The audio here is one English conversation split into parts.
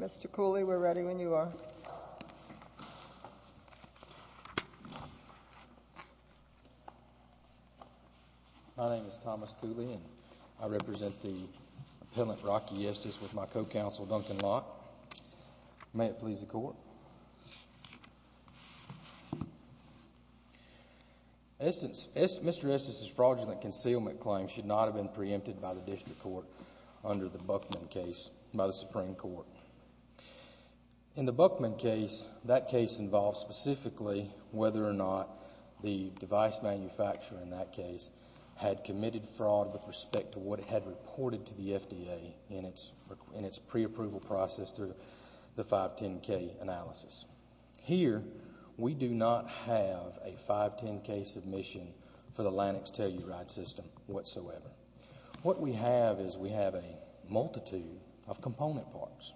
Mr. Cooley, we're ready when you are. My name is Thomas Cooley, and I represent the appellant Rocky Estes with my co-counsel Duncan Locke. May it please the Court. Mr. Estes' fraudulent concealment claim should not have been preempted by the District Court under the Buchman case by the Supreme Court. In the Buchman case, that case involved specifically whether or not the device manufacturer in that case had committed fraud with respect to what it had reported to the FDA in its pre-approval process through the 510K analysis. Here, we do not have a 510K submission for the Lanx Telluride system whatsoever. What we have is we have a multitude of component parts.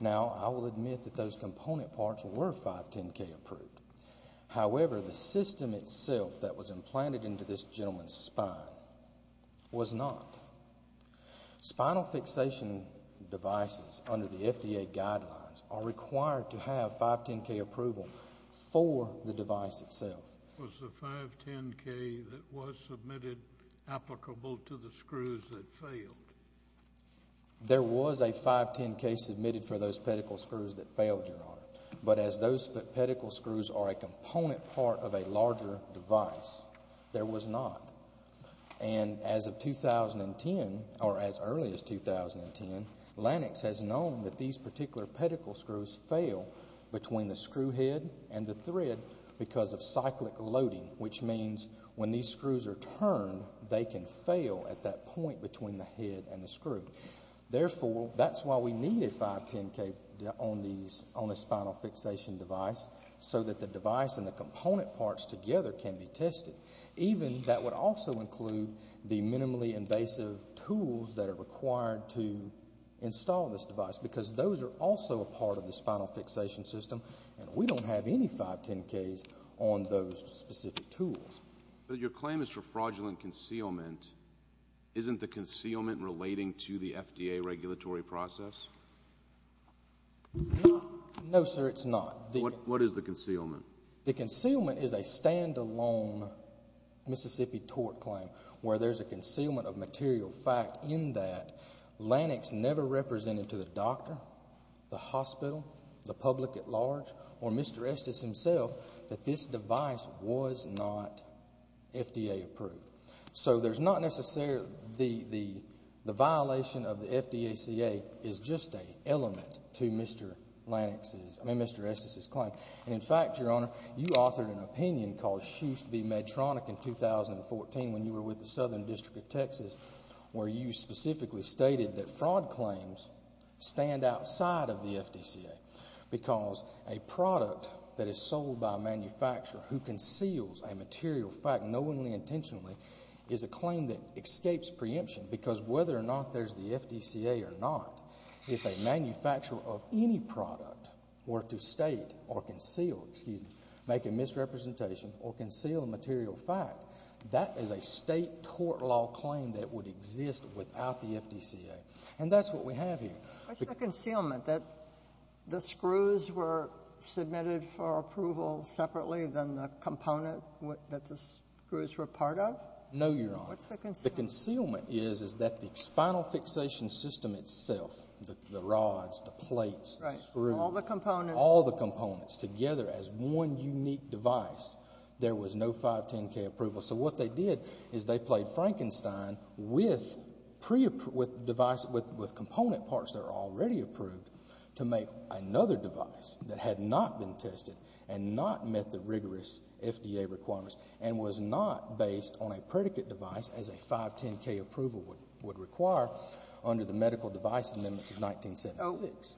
Now, I will admit that those component parts were 510K approved. However, the system itself that was implanted into this gentleman's spine was not. Spinal fixation devices under the FDA guidelines are required to have 510K approval for the device itself. Was the 510K that was submitted applicable to the screws that failed? There was a 510K submitted for those pedicle screws that failed, Your Honor. But as those pedicle screws are a component part of a larger device, there was not. And as of 2010, or as early as 2010, Lanx has known that these particular pedicle screws fail between the screw head and the thread because of cyclic loading, which means when these screws are turned, they can fail at that point between the head and the screw. Therefore, that's why we need a 510K on a spinal fixation device so that the device and the component parts together can be tested. Even that would also include the minimally invasive tools that are required to install this device because those are also a part of the spinal fixation system, and we don't have any 510Ks on those specific tools. But your claim is for fraudulent concealment. Isn't the concealment relating to the FDA regulatory process? No, sir, it's not. What is the concealment? The concealment is a standalone Mississippi tort claim where there's a concealment of material fact in that. Lanx never represented to the doctor, the hospital, the public at large, or Mr. Estes himself that this device was not FDA approved. So there's not necessarily the violation of the FDACA is just an element to Mr. Estes' claim. And in fact, Your Honor, you authored an opinion called Schust v. Medtronic in 2014 where you specifically stated that fraud claims stand outside of the FDCA because a product that is sold by a manufacturer who conceals a material fact knowingly intentionally is a claim that escapes preemption because whether or not there's the FDCA or not, if a manufacturer of any product were to state or conceal, excuse me, make a misrepresentation or conceal a material fact, that is a state tort law claim that would exist without the FDCA. And that's what we have here. What's the concealment, that the screws were submitted for approval separately than the component that the screws were part of? No, Your Honor. What's the concealment? The concealment is that the spinal fixation system itself, the rods, the plates, the screws. All the components. All the components together as one unique device. There was no 510K approval. So what they did is they played Frankenstein with pre-approved device, with component parts that are already approved to make another device that had not been tested and not met the rigorous FDA requirements and was not based on a predicate device as a 510K approval would require under the medical device amendments of 1976.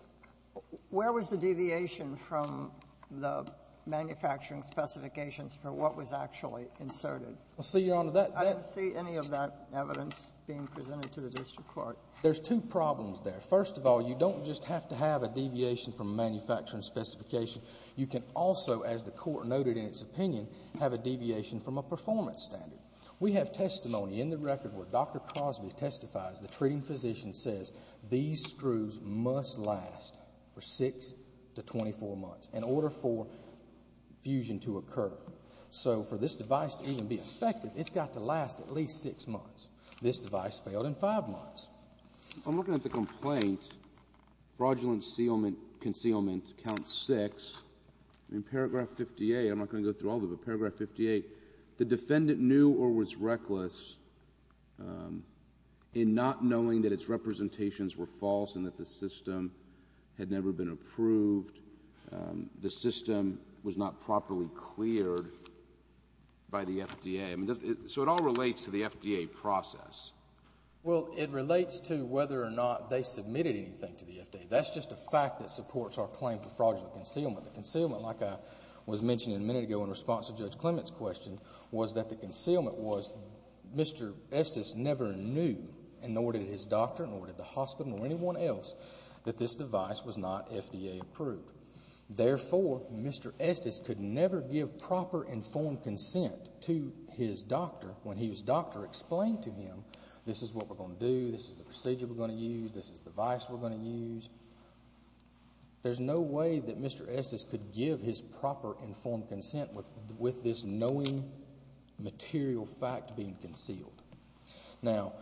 Where was the deviation from the manufacturing specifications for what was actually inserted? I didn't see any of that evidence being presented to the district court. There's two problems there. First of all, you don't just have to have a deviation from manufacturing specification. You can also, as the Court noted in its opinion, have a deviation from a performance standard. We have testimony in the record where Dr. Crosby testifies, the treating physician says these screws must last for six to twenty-four months in order for fusion to occur. So for this device to even be effective, it's got to last at least six months. This device failed in five months. If I'm looking at the complaint, fraudulent concealment count six, in paragraph fifty-eight, I'm not going to go through all of it, but paragraph fifty-eight, the defendant knew or was reckless in not knowing that its representations were false and that the system had never been approved. The system was not properly cleared by the FDA. So it all relates to the FDA process. Well, it relates to whether or not they submitted anything to the FDA. That's just a fact that supports our claim for fraudulent concealment. The concealment, like I was mentioning a minute ago in response to Judge Clement's question, was that the concealment was Mr. Estes never knew, nor did his doctor, nor did the hospital, nor anyone else, that this device was not FDA approved. Therefore, Mr. Estes could never give proper informed consent to his doctor when his doctor explained to him this is what we're going to do, this is the procedure we're going to use, this is the device we're going to use. There's no way that Mr. Estes could give his proper informed consent with this knowing material fact being concealed. Now,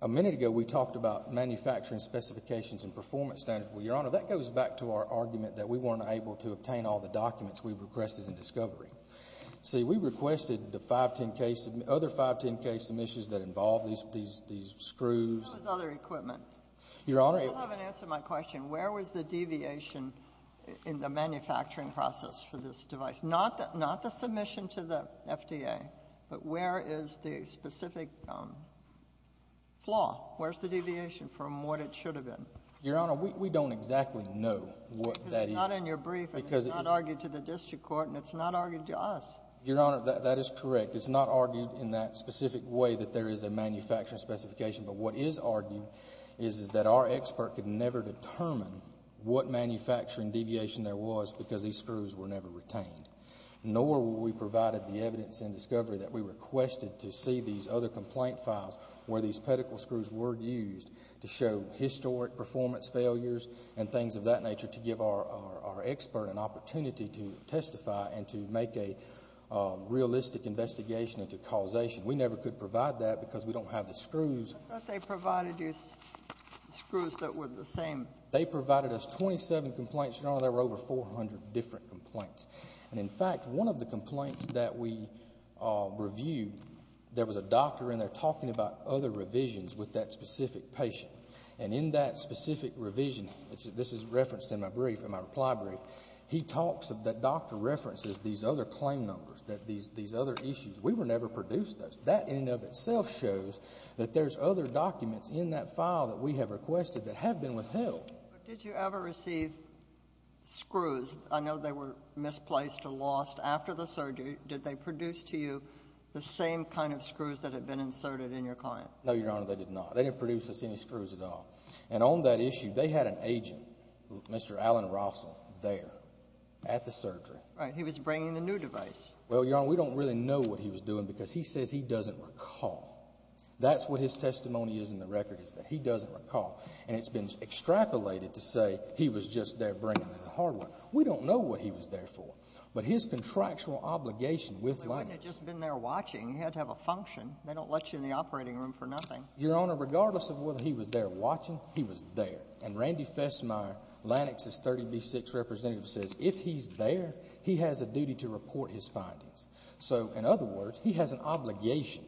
a minute ago we talked about manufacturing specifications and performance standards. Well, Your Honor, that goes back to our argument that we weren't able to obtain all the documents we requested in discovery. See, we requested the five, ten case, other five, ten case submissions that involved these screws. How about other equipment? Your Honor. I still haven't answered my question. Where was the deviation in the manufacturing process for this device? Not the submission to the FDA, but where is the specific flaw? Where's the deviation from what it should have been? Your Honor, we don't exactly know what that is. Because it's not in your brief, and it's not argued to the district court, and it's not argued to us. Your Honor, that is correct. It's not argued in that specific way that there is a manufacturing specification. But what is argued is that our expert could never determine what manufacturing deviation there was because these screws were never retained. Nor will we provide the evidence in discovery that we requested to see these other complaint files where these pedicle screws were used to show historic performance failures and things of that nature to give our expert an opportunity to testify and to make a realistic investigation into causation. We never could provide that because we don't have the screws. I thought they provided you screws that were the same. They provided us 27 complaints, Your Honor. There were over 400 different complaints. And, in fact, one of the complaints that we reviewed, there was a doctor in there talking about other revisions with that specific patient. And in that specific revision, this is referenced in my brief, in my reply brief, he talks of that doctor references these other claim numbers, these other issues. We were never produced those. That in and of itself shows that there's other documents in that file that we have requested that have been withheld. But did you ever receive screws? I know they were misplaced or lost after the surgery. Did they produce to you the same kind of screws that had been inserted in your client? No, Your Honor, they did not. They didn't produce us any screws at all. And on that issue, they had an agent, Mr. Allen Russell, there at the surgery. Right. He was bringing the new device. Well, Your Honor, we don't really know what he was doing because he says he doesn't recall. That's what his testimony is in the record, is that he doesn't recall. And it's been extrapolated to say he was just there bringing in the hardware. We don't know what he was there for. But his contractual obligation with LANEX. But wouldn't you have just been there watching? You had to have a function. They don't let you in the operating room for nothing. Your Honor, regardless of whether he was there watching, he was there. And Randy Fesmeyer, LANEX's 30B6 representative, says if he's there, he has a So, in other words, he has an obligation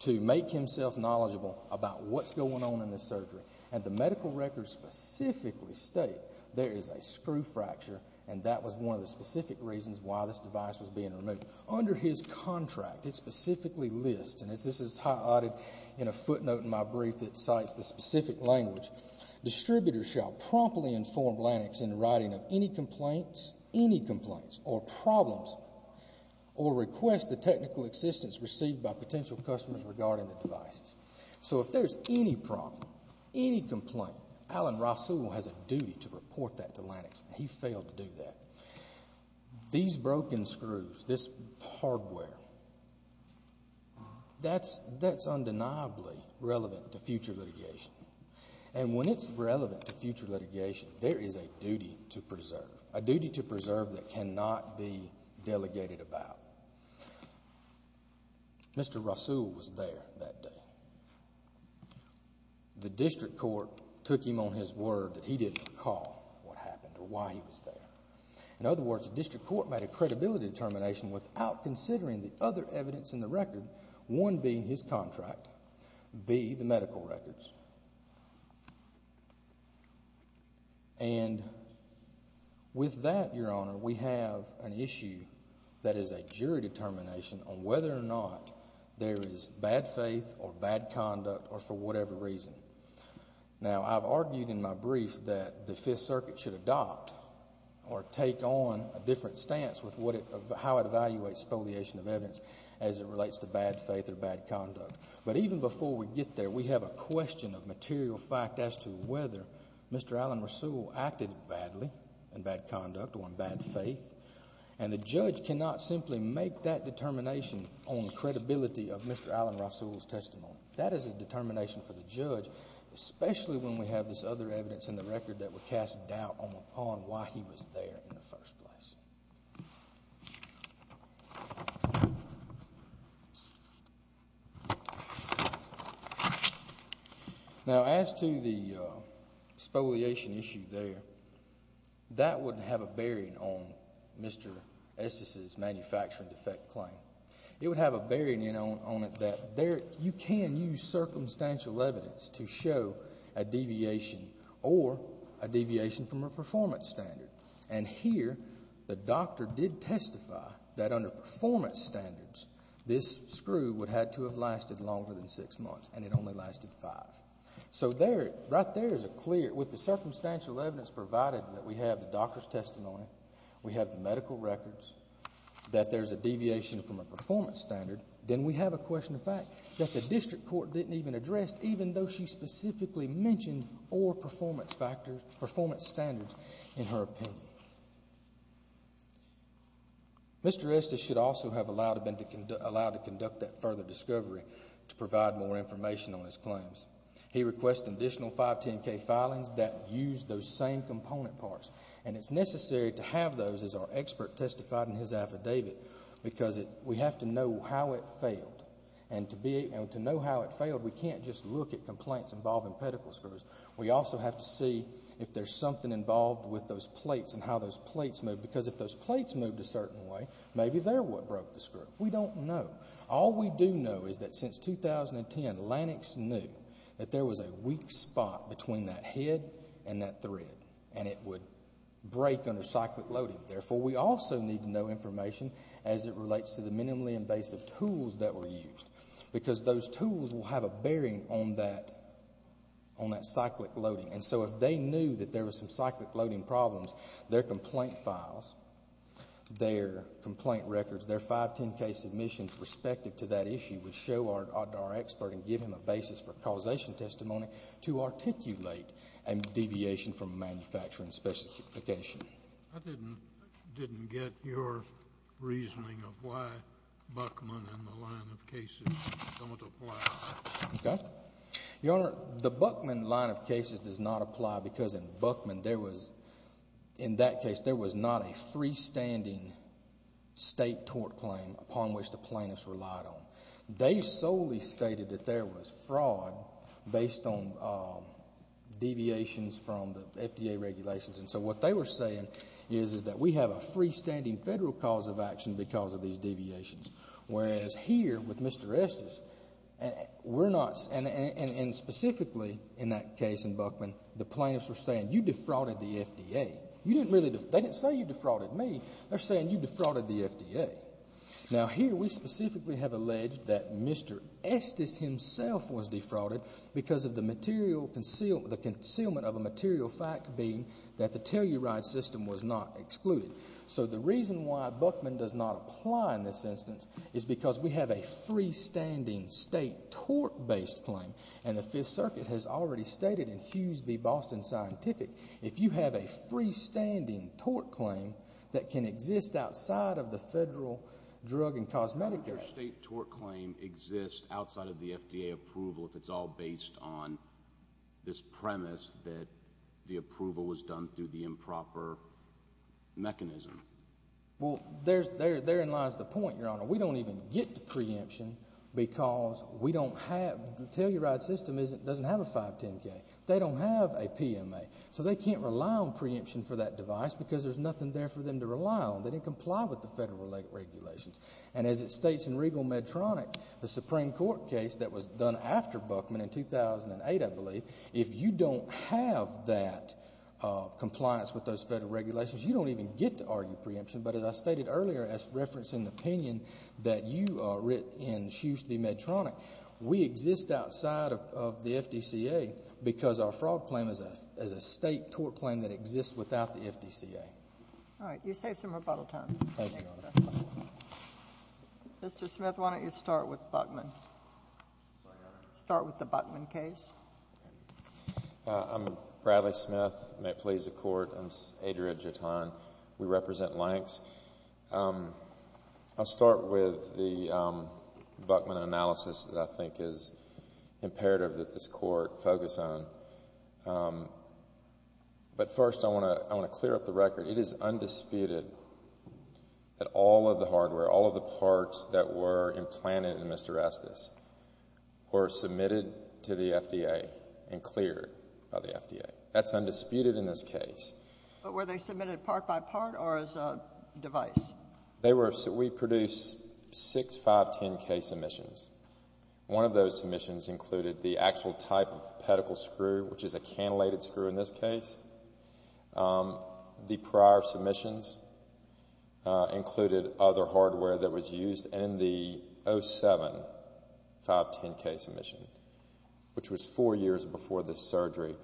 to make himself knowledgeable about what's going on in this surgery. And the medical records specifically state there is a screw fracture, and that was one of the specific reasons why this device was being removed. Under his contract, it specifically lists, and this is highlighted in a footnote in my brief that cites the specific language, Distributors shall promptly inform LANEX in the writing of any complaints, or problems, or request the technical assistance received by potential customers regarding the devices. So, if there's any problem, any complaint, Alan Rasool has a duty to report that to LANEX. He failed to do that. These broken screws, this hardware, that's undeniably relevant to future litigation. And when it's relevant to future litigation, there is a duty to preserve. A duty to preserve that cannot be delegated about. Mr. Rasool was there that day. The district court took him on his word that he didn't recall what happened or why he was there. In other words, the district court made a credibility determination without considering the other evidence in the record, one being his contract, B, the medical records. And with that, Your Honor, we have an issue that is a jury determination on whether or not there is bad faith or bad conduct or for whatever reason. Now, I've argued in my brief that the Fifth Circuit should adopt or take on a different stance with how it evaluates spoliation of evidence as it relates to bad faith or bad conduct. But even before we get there, we have a question of material fact as to whether Mr. Alan Rasool acted badly in bad conduct or in bad faith. And the judge cannot simply make that determination on the credibility of Mr. Alan Rasool's testimony. That is a determination for the judge, especially when we have this other evidence in the record that would cast doubt upon why he was there in the first place. Now, as to the spoliation issue there, that would have a bearing on Mr. Estes' manufacturing defect claim. It would have a bearing on it that you can use circumstantial evidence to show a deviation or a deviation from a performance standard. And here, the doctor did testify that under performance standards, this screw would have to have lasted longer than six months, and it only lasted five. So right there is a clear, with the circumstantial evidence provided that we have the doctor's testimony, we have the medical records, that there's a deviation from a performance standard, then we have a question of fact that the district court didn't even address even though she specifically mentioned performance standards in her opinion. Mr. Estes should also have been allowed to conduct that further discovery to provide more information on his claims. He requested additional 510K filings that used those same component parts, and it's necessary to have those, as our expert testified in his affidavit, because we have to know how it failed. And to know how it failed, we can't just look at complaints involving pedicle screws. We also have to see if there's something involved with those plates and how those plates moved, because if those plates moved a certain way, maybe they're what broke the screw. We don't know. All we do know is that since 2010, Lennox knew that there was a weak spot between that head and that thread, and it would break under cyclic loading. Therefore, we also need to know information as it relates to the minimally invasive tools that were used, because those tools will have a bearing on that cyclic loading. And so if they knew that there was some cyclic loading problems, their complaint files, their complaint records, their 510K submissions respective to that issue would show our expert and give him a basis for causation testimony to articulate a deviation from manufacturing specification. I didn't get your reasoning of why Buckman and the line of cases don't apply. Okay. Your Honor, the Buckman line of cases does not apply, because in Buckman there was, in that case, there was not a freestanding state tort claim upon which the plaintiffs relied on. They solely stated that there was fraud based on deviations from the FDA regulations. And so what they were saying is that we have a freestanding federal cause of action because of these deviations. Whereas here with Mr. Estes, we're not, and specifically in that case in Buckman, the plaintiffs were saying you defrauded the FDA. They didn't say you defrauded me. They're saying you defrauded the FDA. Now, here we specifically have alleged that Mr. Estes himself was defrauded because of the concealment of a material fact being that the telluride system was not excluded. So the reason why Buckman does not apply in this instance is because we have a freestanding state tort-based claim, and the Fifth Circuit has already stated in Hughes v. Boston Scientific, if you have a freestanding tort claim that can exist outside of the federal drug and cosmetic act. Does a state tort claim exist outside of the FDA approval if it's all based on this premise that the approval was done through the improper mechanism? Well, therein lies the point, Your Honor. We don't even get the preemption because we don't have, the telluride system doesn't have a 510K. They don't have a PMA. So they can't rely on preemption for that device because there's nothing there for them to rely on. They didn't comply with the federal regulations. And as it states in Regal Medtronic, the Supreme Court case that was done after Buckman in 2008, I believe, if you don't have that compliance with those federal regulations, you don't even get to argue preemption. But as I stated earlier as referenced in the opinion that you wrote in Hughes v. Medtronic, we exist outside of the FDCA because our fraud claim is a state tort claim that exists without the FDCA. All right. You saved some rebuttal time. Thank you, Your Honor. Mr. Smith, why don't you start with Buckman? Start with the Buckman case. I'm Bradley Smith. May it please the Court. I'm Adria Jaton. We represent Lanks. I'll start with the Buckman analysis that I think is imperative that this Court focus on. But first, I want to clear up the record. It is undisputed that all of the hardware, all of the parts that were implanted in Mr. Estes were submitted to the FDA and cleared by the FDA. That's undisputed in this case. But were they submitted part by part or as a device? We produced six 510K submissions. One of those submissions included the actual type of pedicle screw, which is a cantilated screw in this case. The prior submissions included other hardware that was used. And in the 07 510K submission, which was four years before this surgery,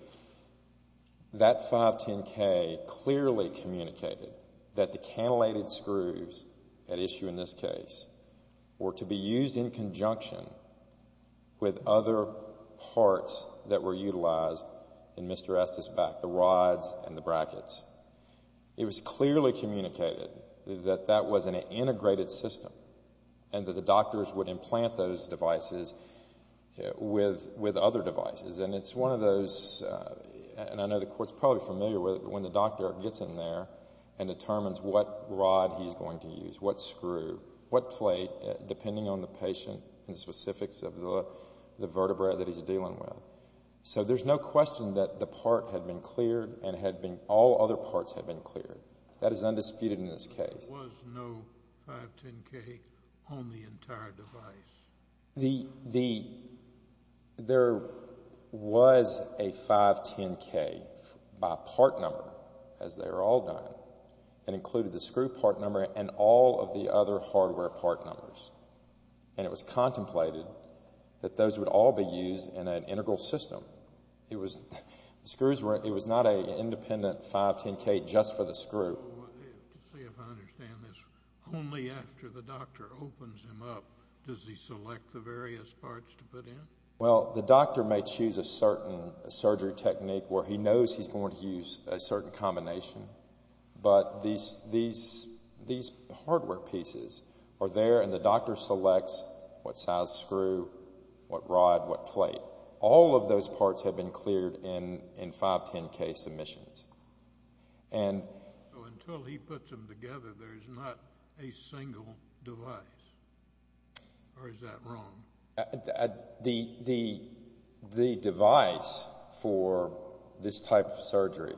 that 510K clearly communicated that the cantilated screws at issue in this case were to be used in conjunction with other parts that were utilized in Mr. Estes' back, the rods and the brackets. It was clearly communicated that that was an integrated system and that the doctors would implant those devices with other devices. And it's one of those, and I know the Court's probably familiar with it, when the doctor gets in there and determines what rod he's going to use, what screw, what plate, depending on the patient and specifics of the vertebrae that he's dealing with. So there's no question that the part had been cleared and all other parts had been cleared. That is undisputed in this case. There was no 510K on the entire device? There was a 510K by part number, as they were all done, and included the screw part number and all of the other hardware part numbers. And it was contemplated that those would all be used in an integral system. It was not an independent 510K just for the screw. To see if I understand this, only after the doctor opens him up, does he select the various parts to put in? Well, the doctor may choose a certain surgery technique where he knows he's going to use a certain combination, but these hardware pieces are there, and the doctor selects what size screw, what rod, what plate. All of those parts have been cleared in 510K submissions. So until he puts them together, there's not a single device, or is that wrong? The device for this type of surgery,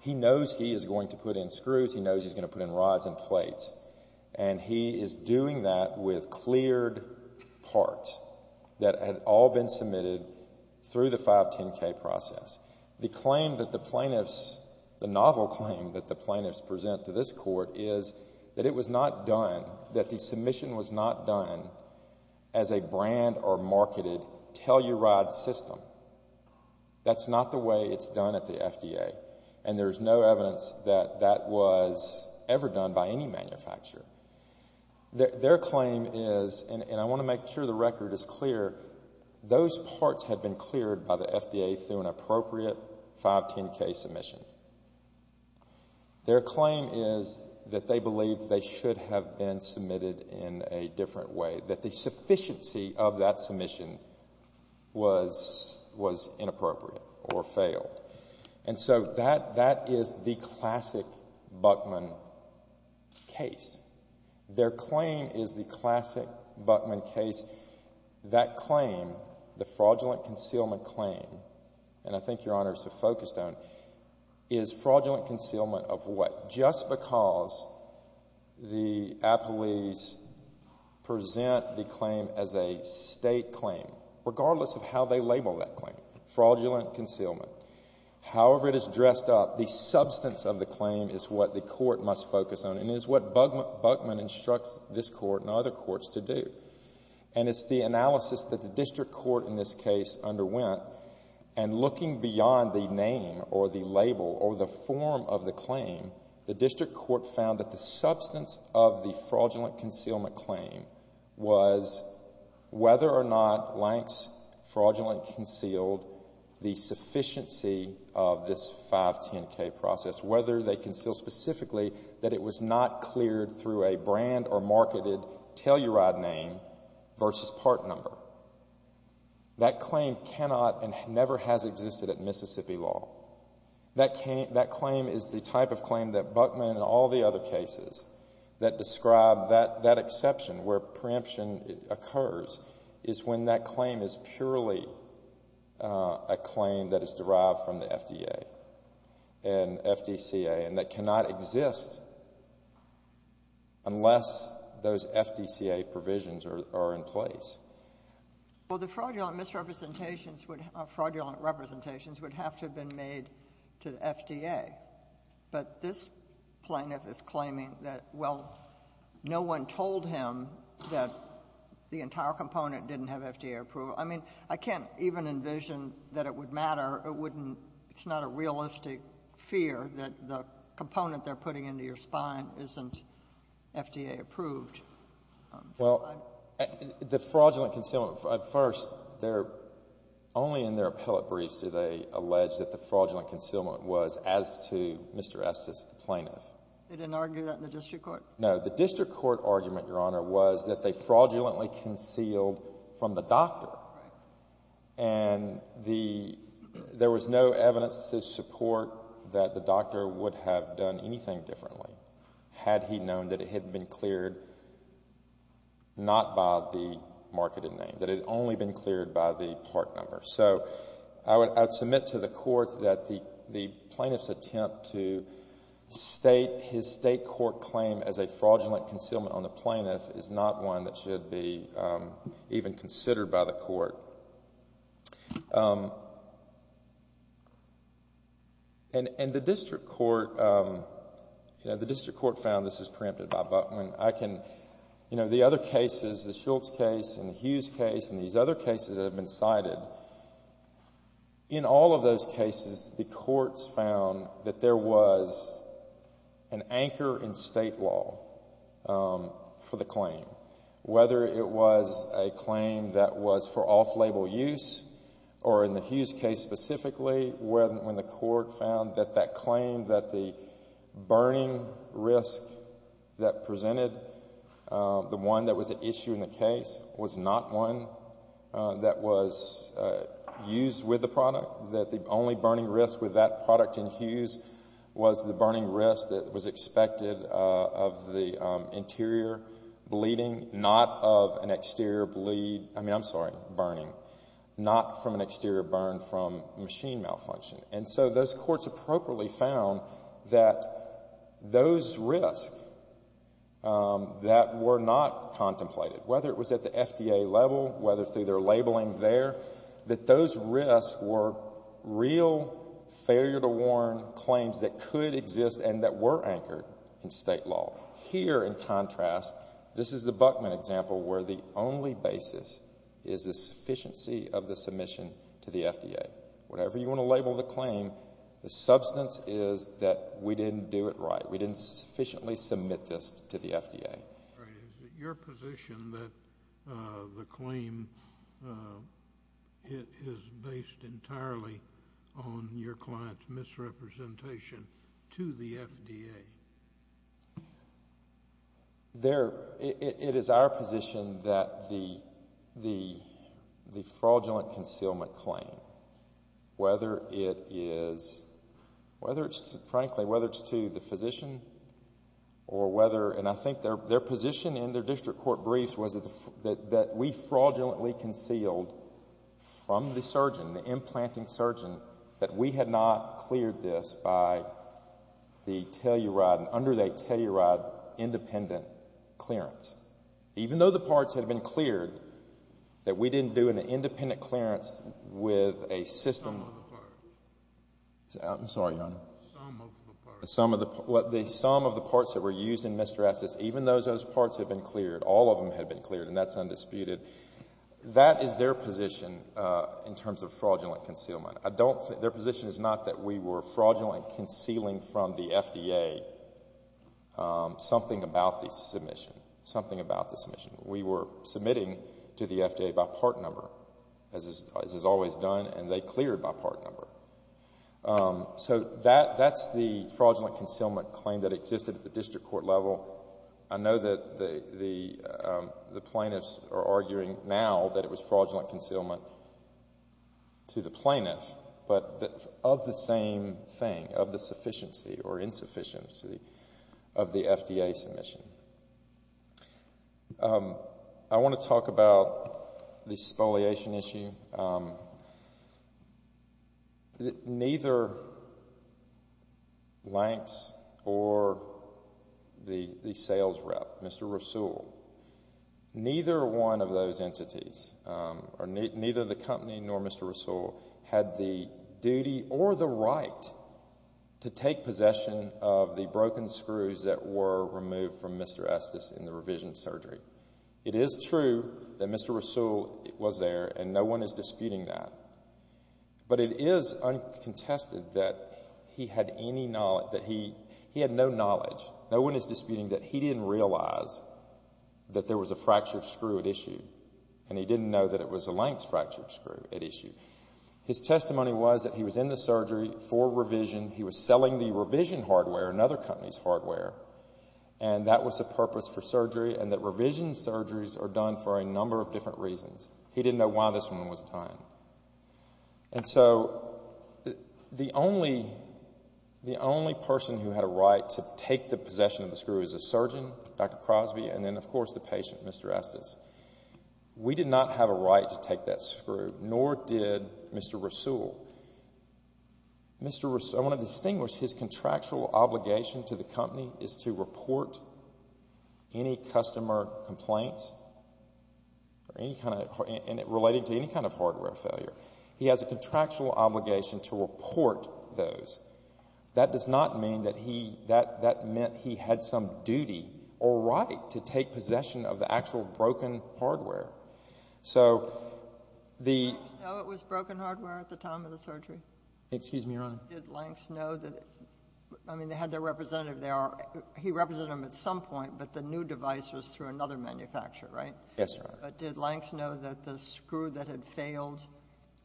he knows he is going to put in screws, he knows he's going to put in rods and plates, and he is doing that with cleared parts that had all been submitted through the 510K process. The claim that the plaintiffs, the novel claim that the plaintiffs present to this court is that it was not done, that the submission was not done as a brand or marketed Telluride system. That's not the way it's done at the FDA, and there's no evidence that that was ever done by any manufacturer. Their claim is, and I want to make sure the record is clear, those parts had been cleared by the FDA through an appropriate 510K submission. Their claim is that they believe they should have been submitted in a different way, that the sufficiency of that submission was inappropriate or failed. And so that is the classic Buckman case. Their claim is the classic Buckman case. That claim, the fraudulent concealment claim, and I think Your Honors are focused on, is fraudulent concealment of what? Just because the appellees present the claim as a state claim, regardless of how they label that claim, fraudulent concealment, however it is dressed up, the substance of the claim is what the court must focus on and is what Buckman instructs this court and other courts to do. And it's the analysis that the district court in this case underwent, and looking beyond the name or the label or the form of the claim, the district court found that the substance of the fraudulent concealment claim was whether or not Lanx fraudulent concealed the sufficiency of this 510K process, whether they concealed specifically that it was not cleared through a brand or marketed telluride name versus part number. That claim cannot and never has existed at Mississippi law. That claim is the type of claim that Buckman and all the other cases that describe that exception where preemption occurs is when that claim is purely a claim that is derived from the FDA and FDCA and that cannot exist unless those FDCA provisions are in place. Well, the fraudulent misrepresentations would have to have been made to the FDA. But this plaintiff is claiming that, well, no one told him that the entire component didn't have FDA approval. I mean, I can't even envision that it would matter. It's not a realistic fear that the component they're putting into your spine isn't FDA approved. Well, the fraudulent concealment, at first, only in their appellate briefs do they allege that the fraudulent concealment was as to Mr. Estes, the plaintiff. They didn't argue that in the district court? No, the district court argument, Your Honor, was that they fraudulently concealed from the doctor. And there was no evidence to support that the doctor would have done anything differently had he known that it had been cleared not by the marketed name, that it had only been cleared by the part number. So I would submit to the court that the plaintiff's attempt to state his state court claim as a fraudulent concealment on the plaintiff is not one that should be even considered by the court. And the district court found this is preempted by Buckman. The other cases, the Schultz case and the Hughes case and these other cases that have been cited, in all of those cases the courts found that there was an anchor in state law for the claim. Whether it was a claim that was for off-label use or in the Hughes case specifically when the court found that that claim, that the burning risk that presented, the one that was at issue in the case, was not one that was used with the product, that the only burning risk with that product in Hughes was the burning risk that was expected of the interior bleeding, not of an exterior bleed, I mean, I'm sorry, burning, not from an exterior burn from machine malfunction. And so those courts appropriately found that those risks that were not contemplated, whether it was at the FDA level, whether through their labeling there, that those risks were real failure-to-warn claims that could exist and that were anchored in state law. Here, in contrast, this is the Buckman example where the only basis is the sufficiency of the submission to the FDA. Whatever you want to label the claim, the substance is that we didn't do it right. We didn't sufficiently submit this to the FDA. Is it your position that the claim is based entirely on your client's misrepresentation to the FDA? It is our position that the fraudulent concealment claim, whether it is frankly to the physician or whether, and I think their position in their district court briefs was that we fraudulently concealed from the surgeon, the implanting surgeon, that we had not cleared this by the teluride, under the teluride independent clearance. Even though the parts had been cleared, that we didn't do an independent clearance with a system. Some of the parts. I'm sorry, Your Honor. Some of the parts. Some of the parts that were used in Mr. Estes, even though those parts had been cleared, all of them had been cleared, and that's undisputed, that is their position in terms of fraudulent concealment. Their position is not that we were fraudulently concealing from the FDA something about the submission, something about the submission. We were submitting to the FDA by part number, as is always done, and they cleared by part number. So that's the fraudulent concealment claim that existed at the district court level. I know that the plaintiffs are arguing now that it was fraudulent concealment to the plaintiff, but of the same thing, of the sufficiency or insufficiency of the FDA submission. I want to talk about the spoliation issue. Neither Lanx or the sales rep, Mr. Rasool, neither one of those entities, or neither the company nor Mr. Rasool, had the duty or the right to take possession of the broken screws that were removed from Mr. Estes in the revision surgery. It is true that Mr. Rasool was there, and no one is disputing that, but it is uncontested that he had no knowledge, no one is disputing that he didn't realize that there was a fractured screw at issue, and he didn't know that it was a Lanx fractured screw at issue. His testimony was that he was in the surgery for revision. He was selling the revision hardware, another company's hardware, and that was the purpose for surgery and that revision surgeries are done for a number of different reasons. He didn't know why this one was dying. And so the only person who had a right to take the possession of the screw is a surgeon, Dr. Crosby, and then, of course, the patient, Mr. Estes. We did not have a right to take that screw, nor did Mr. Rasool. Mr. Rasool, I want to distinguish his contractual obligation to the company is to report any customer complaints related to any kind of hardware failure. He has a contractual obligation to report those. That does not mean that he had some duty or right to take possession of the actual broken hardware. Did Lanx know it was broken hardware at the time of the surgery? Excuse me, Your Honor. Did Lanx know that? I mean, they had their representative there. He represented them at some point, but the new device was through another manufacturer, right? Yes, Your Honor. But did Lanx know that the screw that had failed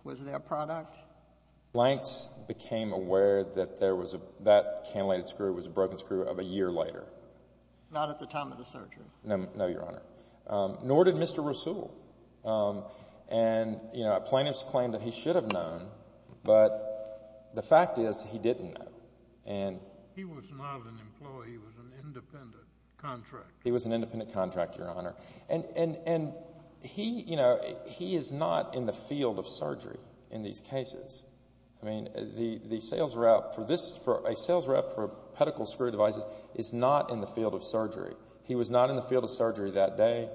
was their product? Lanx became aware that that cantilated screw was a broken screw of a year later. Not at the time of the surgery? No, Your Honor. Nor did Mr. Rasool. And plaintiffs claim that he should have known, but the fact is he didn't know. He was not an employee. He was an independent contractor. He was an independent contractor, Your Honor. And he is not in the field of surgery in these cases. I mean, a sales rep for a pedicle screw device is not in the field of surgery. He was not in the field of surgery that day.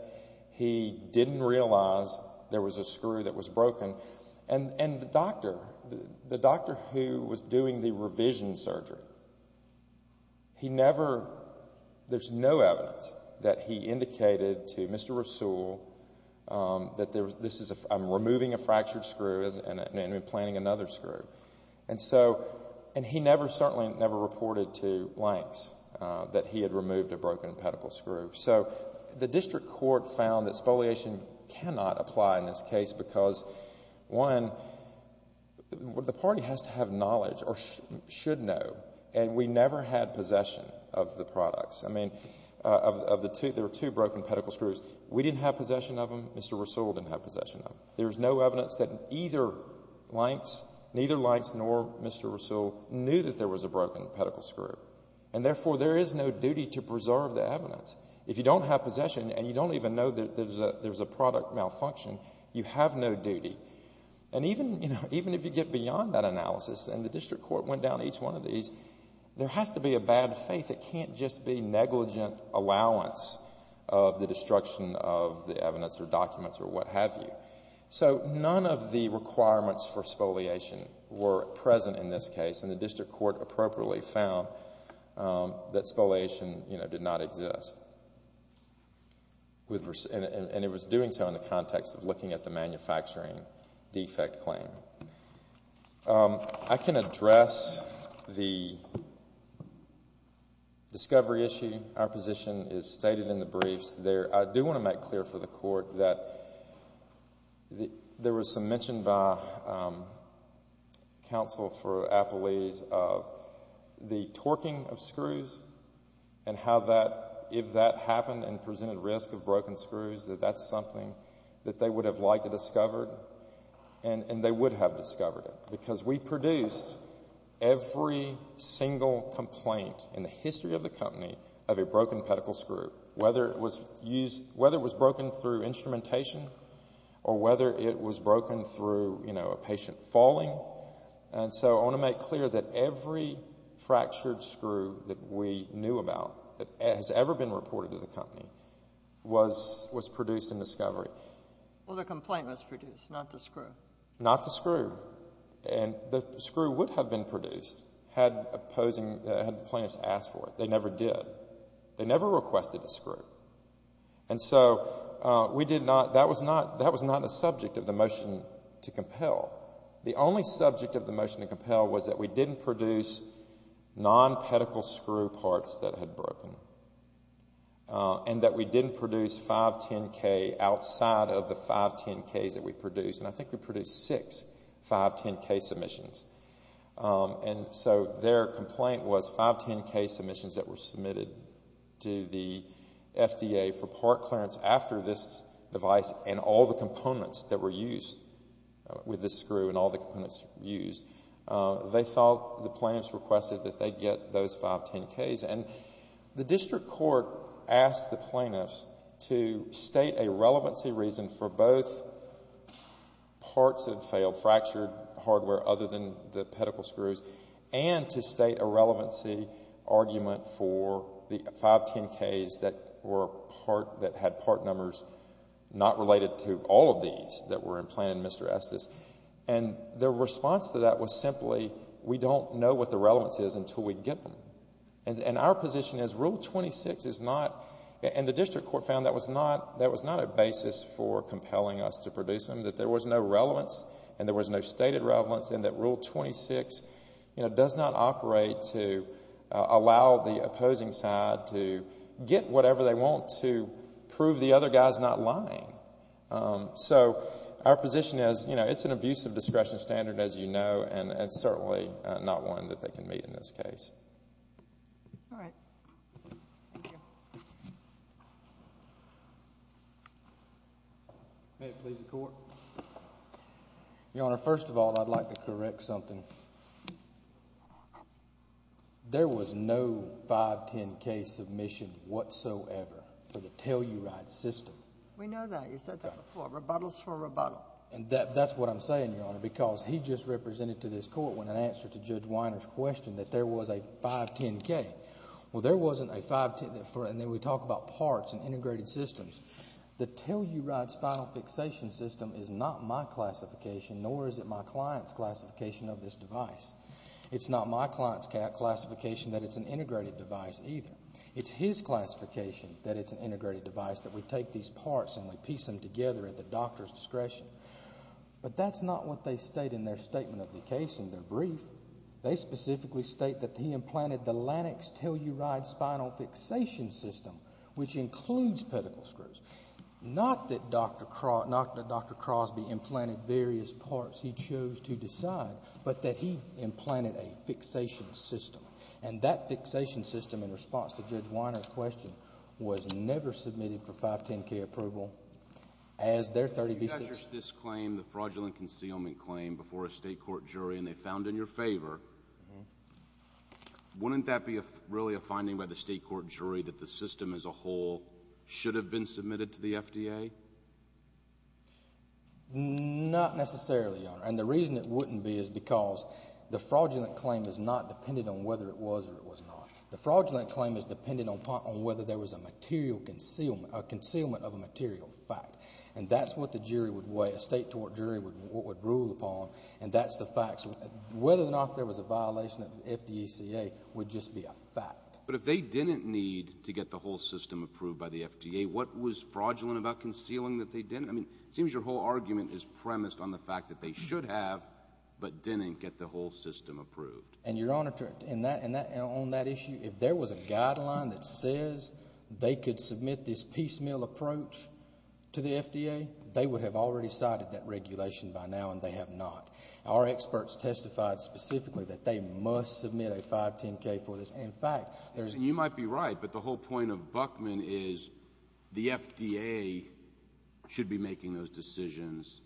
He didn't realize there was a screw that was broken. And the doctor who was doing the revision surgery, there's no evidence that he indicated to Mr. Rasool that I'm removing a fractured screw and implanting another screw. And he certainly never reported to Lanx that he had removed a broken pedicle screw. So the district court found that spoliation cannot apply in this case because, one, the party has to have knowledge or should know, and we never had possession of the products. I mean, there were two broken pedicle screws. We didn't have possession of them. Mr. Rasool didn't have possession of them. There's no evidence that either Lanx, neither Lanx nor Mr. Rasool, knew that there was a broken pedicle screw. And therefore, there is no duty to preserve the evidence. If you don't have possession and you don't even know that there's a product malfunction, you have no duty. And even if you get beyond that analysis, and the district court went down each one of these, there has to be a bad faith. It can't just be negligent allowance of the destruction of the evidence or documents or what have you. So none of the requirements for spoliation were present in this case, and the district court appropriately found that spoliation did not exist. And it was doing so in the context of looking at the manufacturing defect claim. I can address the discovery issue. Our position is stated in the briefs. I do want to make clear for the court that there was some mention by counsel for Appalese of the torquing of screws and how that, if that happened and presented risk of broken screws, that that's something that they would have liked to have discovered, and they would have discovered it. Because we produced every single complaint in the history of the company of a broken pedicle screw, whether it was broken through instrumentation or whether it was broken through a patient falling. And so I want to make clear that every fractured screw that we knew about that has ever been reported to the company was produced in discovery. Well, the complaint was produced, not the screw. Not the screw. And the screw would have been produced had the plaintiffs asked for it. They never did. They never requested a screw. And so that was not a subject of the motion to compel. The only subject of the motion to compel was that we didn't produce non-pedicle screw parts that had broken and that we didn't produce 510K outside of the 510Ks that we produced. And I think we produced six 510K submissions. And so their complaint was 510K submissions that were submitted to the FDA for part clearance after this device and all the components that were used with this screw and all the components used. They thought the plaintiffs requested that they get those 510Ks. And the district court asked the plaintiffs to state a relevancy reason for both parts that had failed, fractured hardware other than the pedicle screws, and to state a relevancy argument for the 510Ks that had part numbers not related to all of these that were implanted in Mr. Estes. And their response to that was simply, we don't know what the relevance is until we get them. And our position is Rule 26 is not, and the district court found that was not a basis for compelling us to produce them, that there was no relevance and there was no stated relevance and that Rule 26 does not operate to allow the opposing side to get whatever they want to prove the other guy's not lying. So our position is it's an abusive discretion standard, as you know, and it's certainly not one that they can meet in this case. All right. Thank you. May it please the Court. Your Honor, first of all, I'd like to correct something. There was no 510K submission whatsoever for the Telluride system. We know that. You said that before. Rebuttals for rebuttal. And that's what I'm saying, Your Honor, because he just represented to this Court when I answered to Judge Weiner's question that there was a 510K. Well, there wasn't a 510K, and then we talk about parts and integrated systems. The Telluride spinal fixation system is not my classification nor is it my client's classification of this device. It's not my client's classification that it's an integrated device either. It's his classification that it's an integrated device, that we take these parts and we piece them together at the doctor's discretion. But that's not what they state in their statement of the case in their brief. They specifically state that he implanted the LANEX Telluride spinal fixation system, which includes pedicle screws. Not that Dr. Crosby implanted various parts he chose to decide, but that he implanted a fixation system. And that fixation system, in response to Judge Weiner's question, was never submitted for 510K approval as their 30B6. You got your dismiss claim, the fraudulent concealment claim, before a State court jury, and they found in your favor. Wouldn't that be really a finding by the State court jury that the system as a whole should have been submitted to the FDA? Not necessarily, Your Honor. And the reason it wouldn't be is because the fraudulent claim is not dependent on whether it was or it was not. The fraudulent claim is dependent on whether there was a material concealment, a concealment of a material fact, and that's what the jury would weigh, a State court jury would rule upon, and that's the facts. Whether or not there was a violation of the FDECA would just be a fact. But if they didn't need to get the whole system approved by the FDA, what was fraudulent about concealing that they didn't? I mean, it seems your whole argument is premised on the fact that they should have, but didn't get the whole system approved. And, Your Honor, on that issue, if there was a guideline that says they could submit this piecemeal approach to the FDA, they would have already cited that regulation by now, and they have not. Our experts testified specifically that they must submit a 510K for this. In fact, there's... And you might be right, but the whole point of Buckman is the FDA should be making those decisions,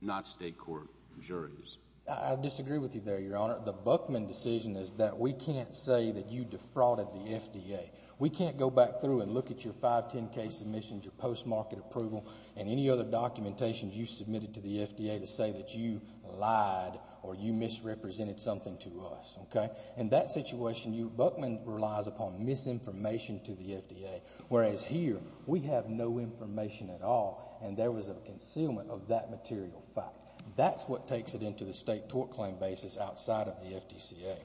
not State court juries. I disagree with you there, Your Honor. The Buckman decision is that we can't say that you defrauded the FDA. We can't go back through and look at your 510K submissions, your post-market approval, and any other documentation you submitted to the FDA to say that you lied or you misrepresented something to us. Okay? In that situation, Buckman relies upon misinformation to the FDA, whereas here we have no information at all, and there was a concealment of that material fact. That's what takes it into the State tort claim basis outside of the FDCA.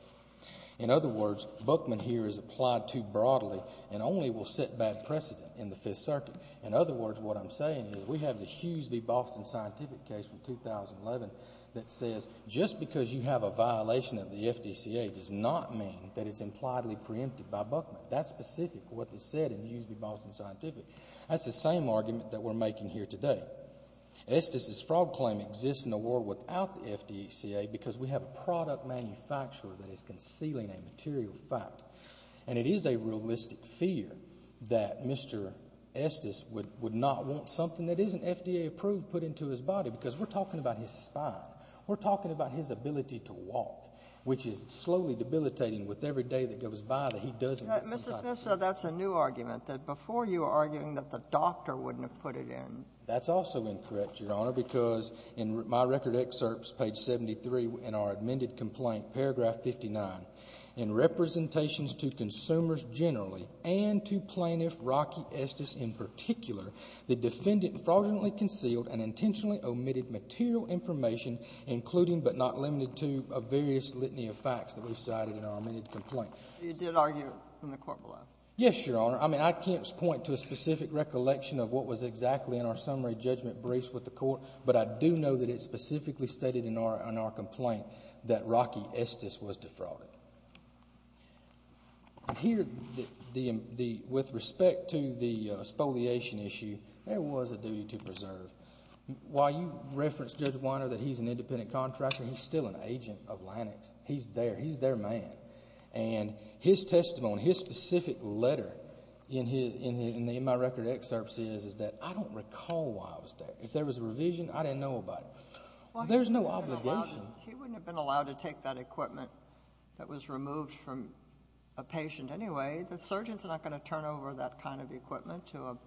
In other words, Buckman here is applied too broadly and only will set bad precedent in the Fifth Circuit. In other words, what I'm saying is we have the Hughes v. Boston scientific case from 2011 that says just because you have a violation of the FDCA does not mean that it's impliedly preempted by Buckman. That's specific to what is said in the Hughes v. Boston scientific. That's the same argument that we're making here today. Estes' fraud claim exists in a world without the FDCA because we have a product manufacturer that is concealing a material fact, and it is a realistic fear that Mr. Estes would not want something that isn't FDA approved put into his body because we're talking about his spine. We're talking about his ability to walk, which is slowly debilitating with every day that goes by that he doesn't have somebody. But, Mr. Smith, so that's a new argument, that before you were arguing that the doctor wouldn't have put it in. That's also incorrect, Your Honor, because in my record excerpts, page 73 in our amended complaint, paragraph 59, in representations to consumers generally and to plaintiff Rocky Estes in particular, the defendant fraudulently concealed and intentionally omitted material information, including but not limited to a various litany of facts that we cited in our amended complaint. You did argue in the court below. Yes, Your Honor. I mean, I can't point to a specific recollection of what was exactly in our summary judgment briefs with the court, but I do know that it specifically stated in our complaint that Rocky Estes was defrauded. Here, with respect to the spoliation issue, there was a duty to preserve. While you referenced, Judge Weiner, that he's an independent contractor, he's still an agent of Lanik's. He's there. He's their man. And his testimony, his specific letter in my record excerpts is that I don't recall why I was there. If there was a revision, I didn't know about it. There's no obligation. He wouldn't have been allowed to take that equipment that was removed from a patient anyway. The surgeon's not going to turn over that kind of equipment to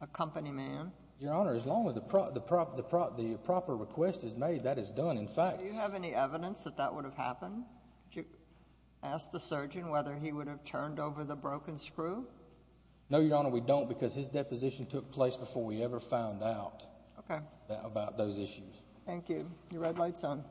a company man. Your Honor, as long as the proper request is made, that is done, in fact. Do you have any evidence that that would have happened? Did you ask the surgeon whether he would have turned over the broken screw? No, Your Honor, we don't because his deposition took place before we ever found out about those issues. Thank you. Your red light's on.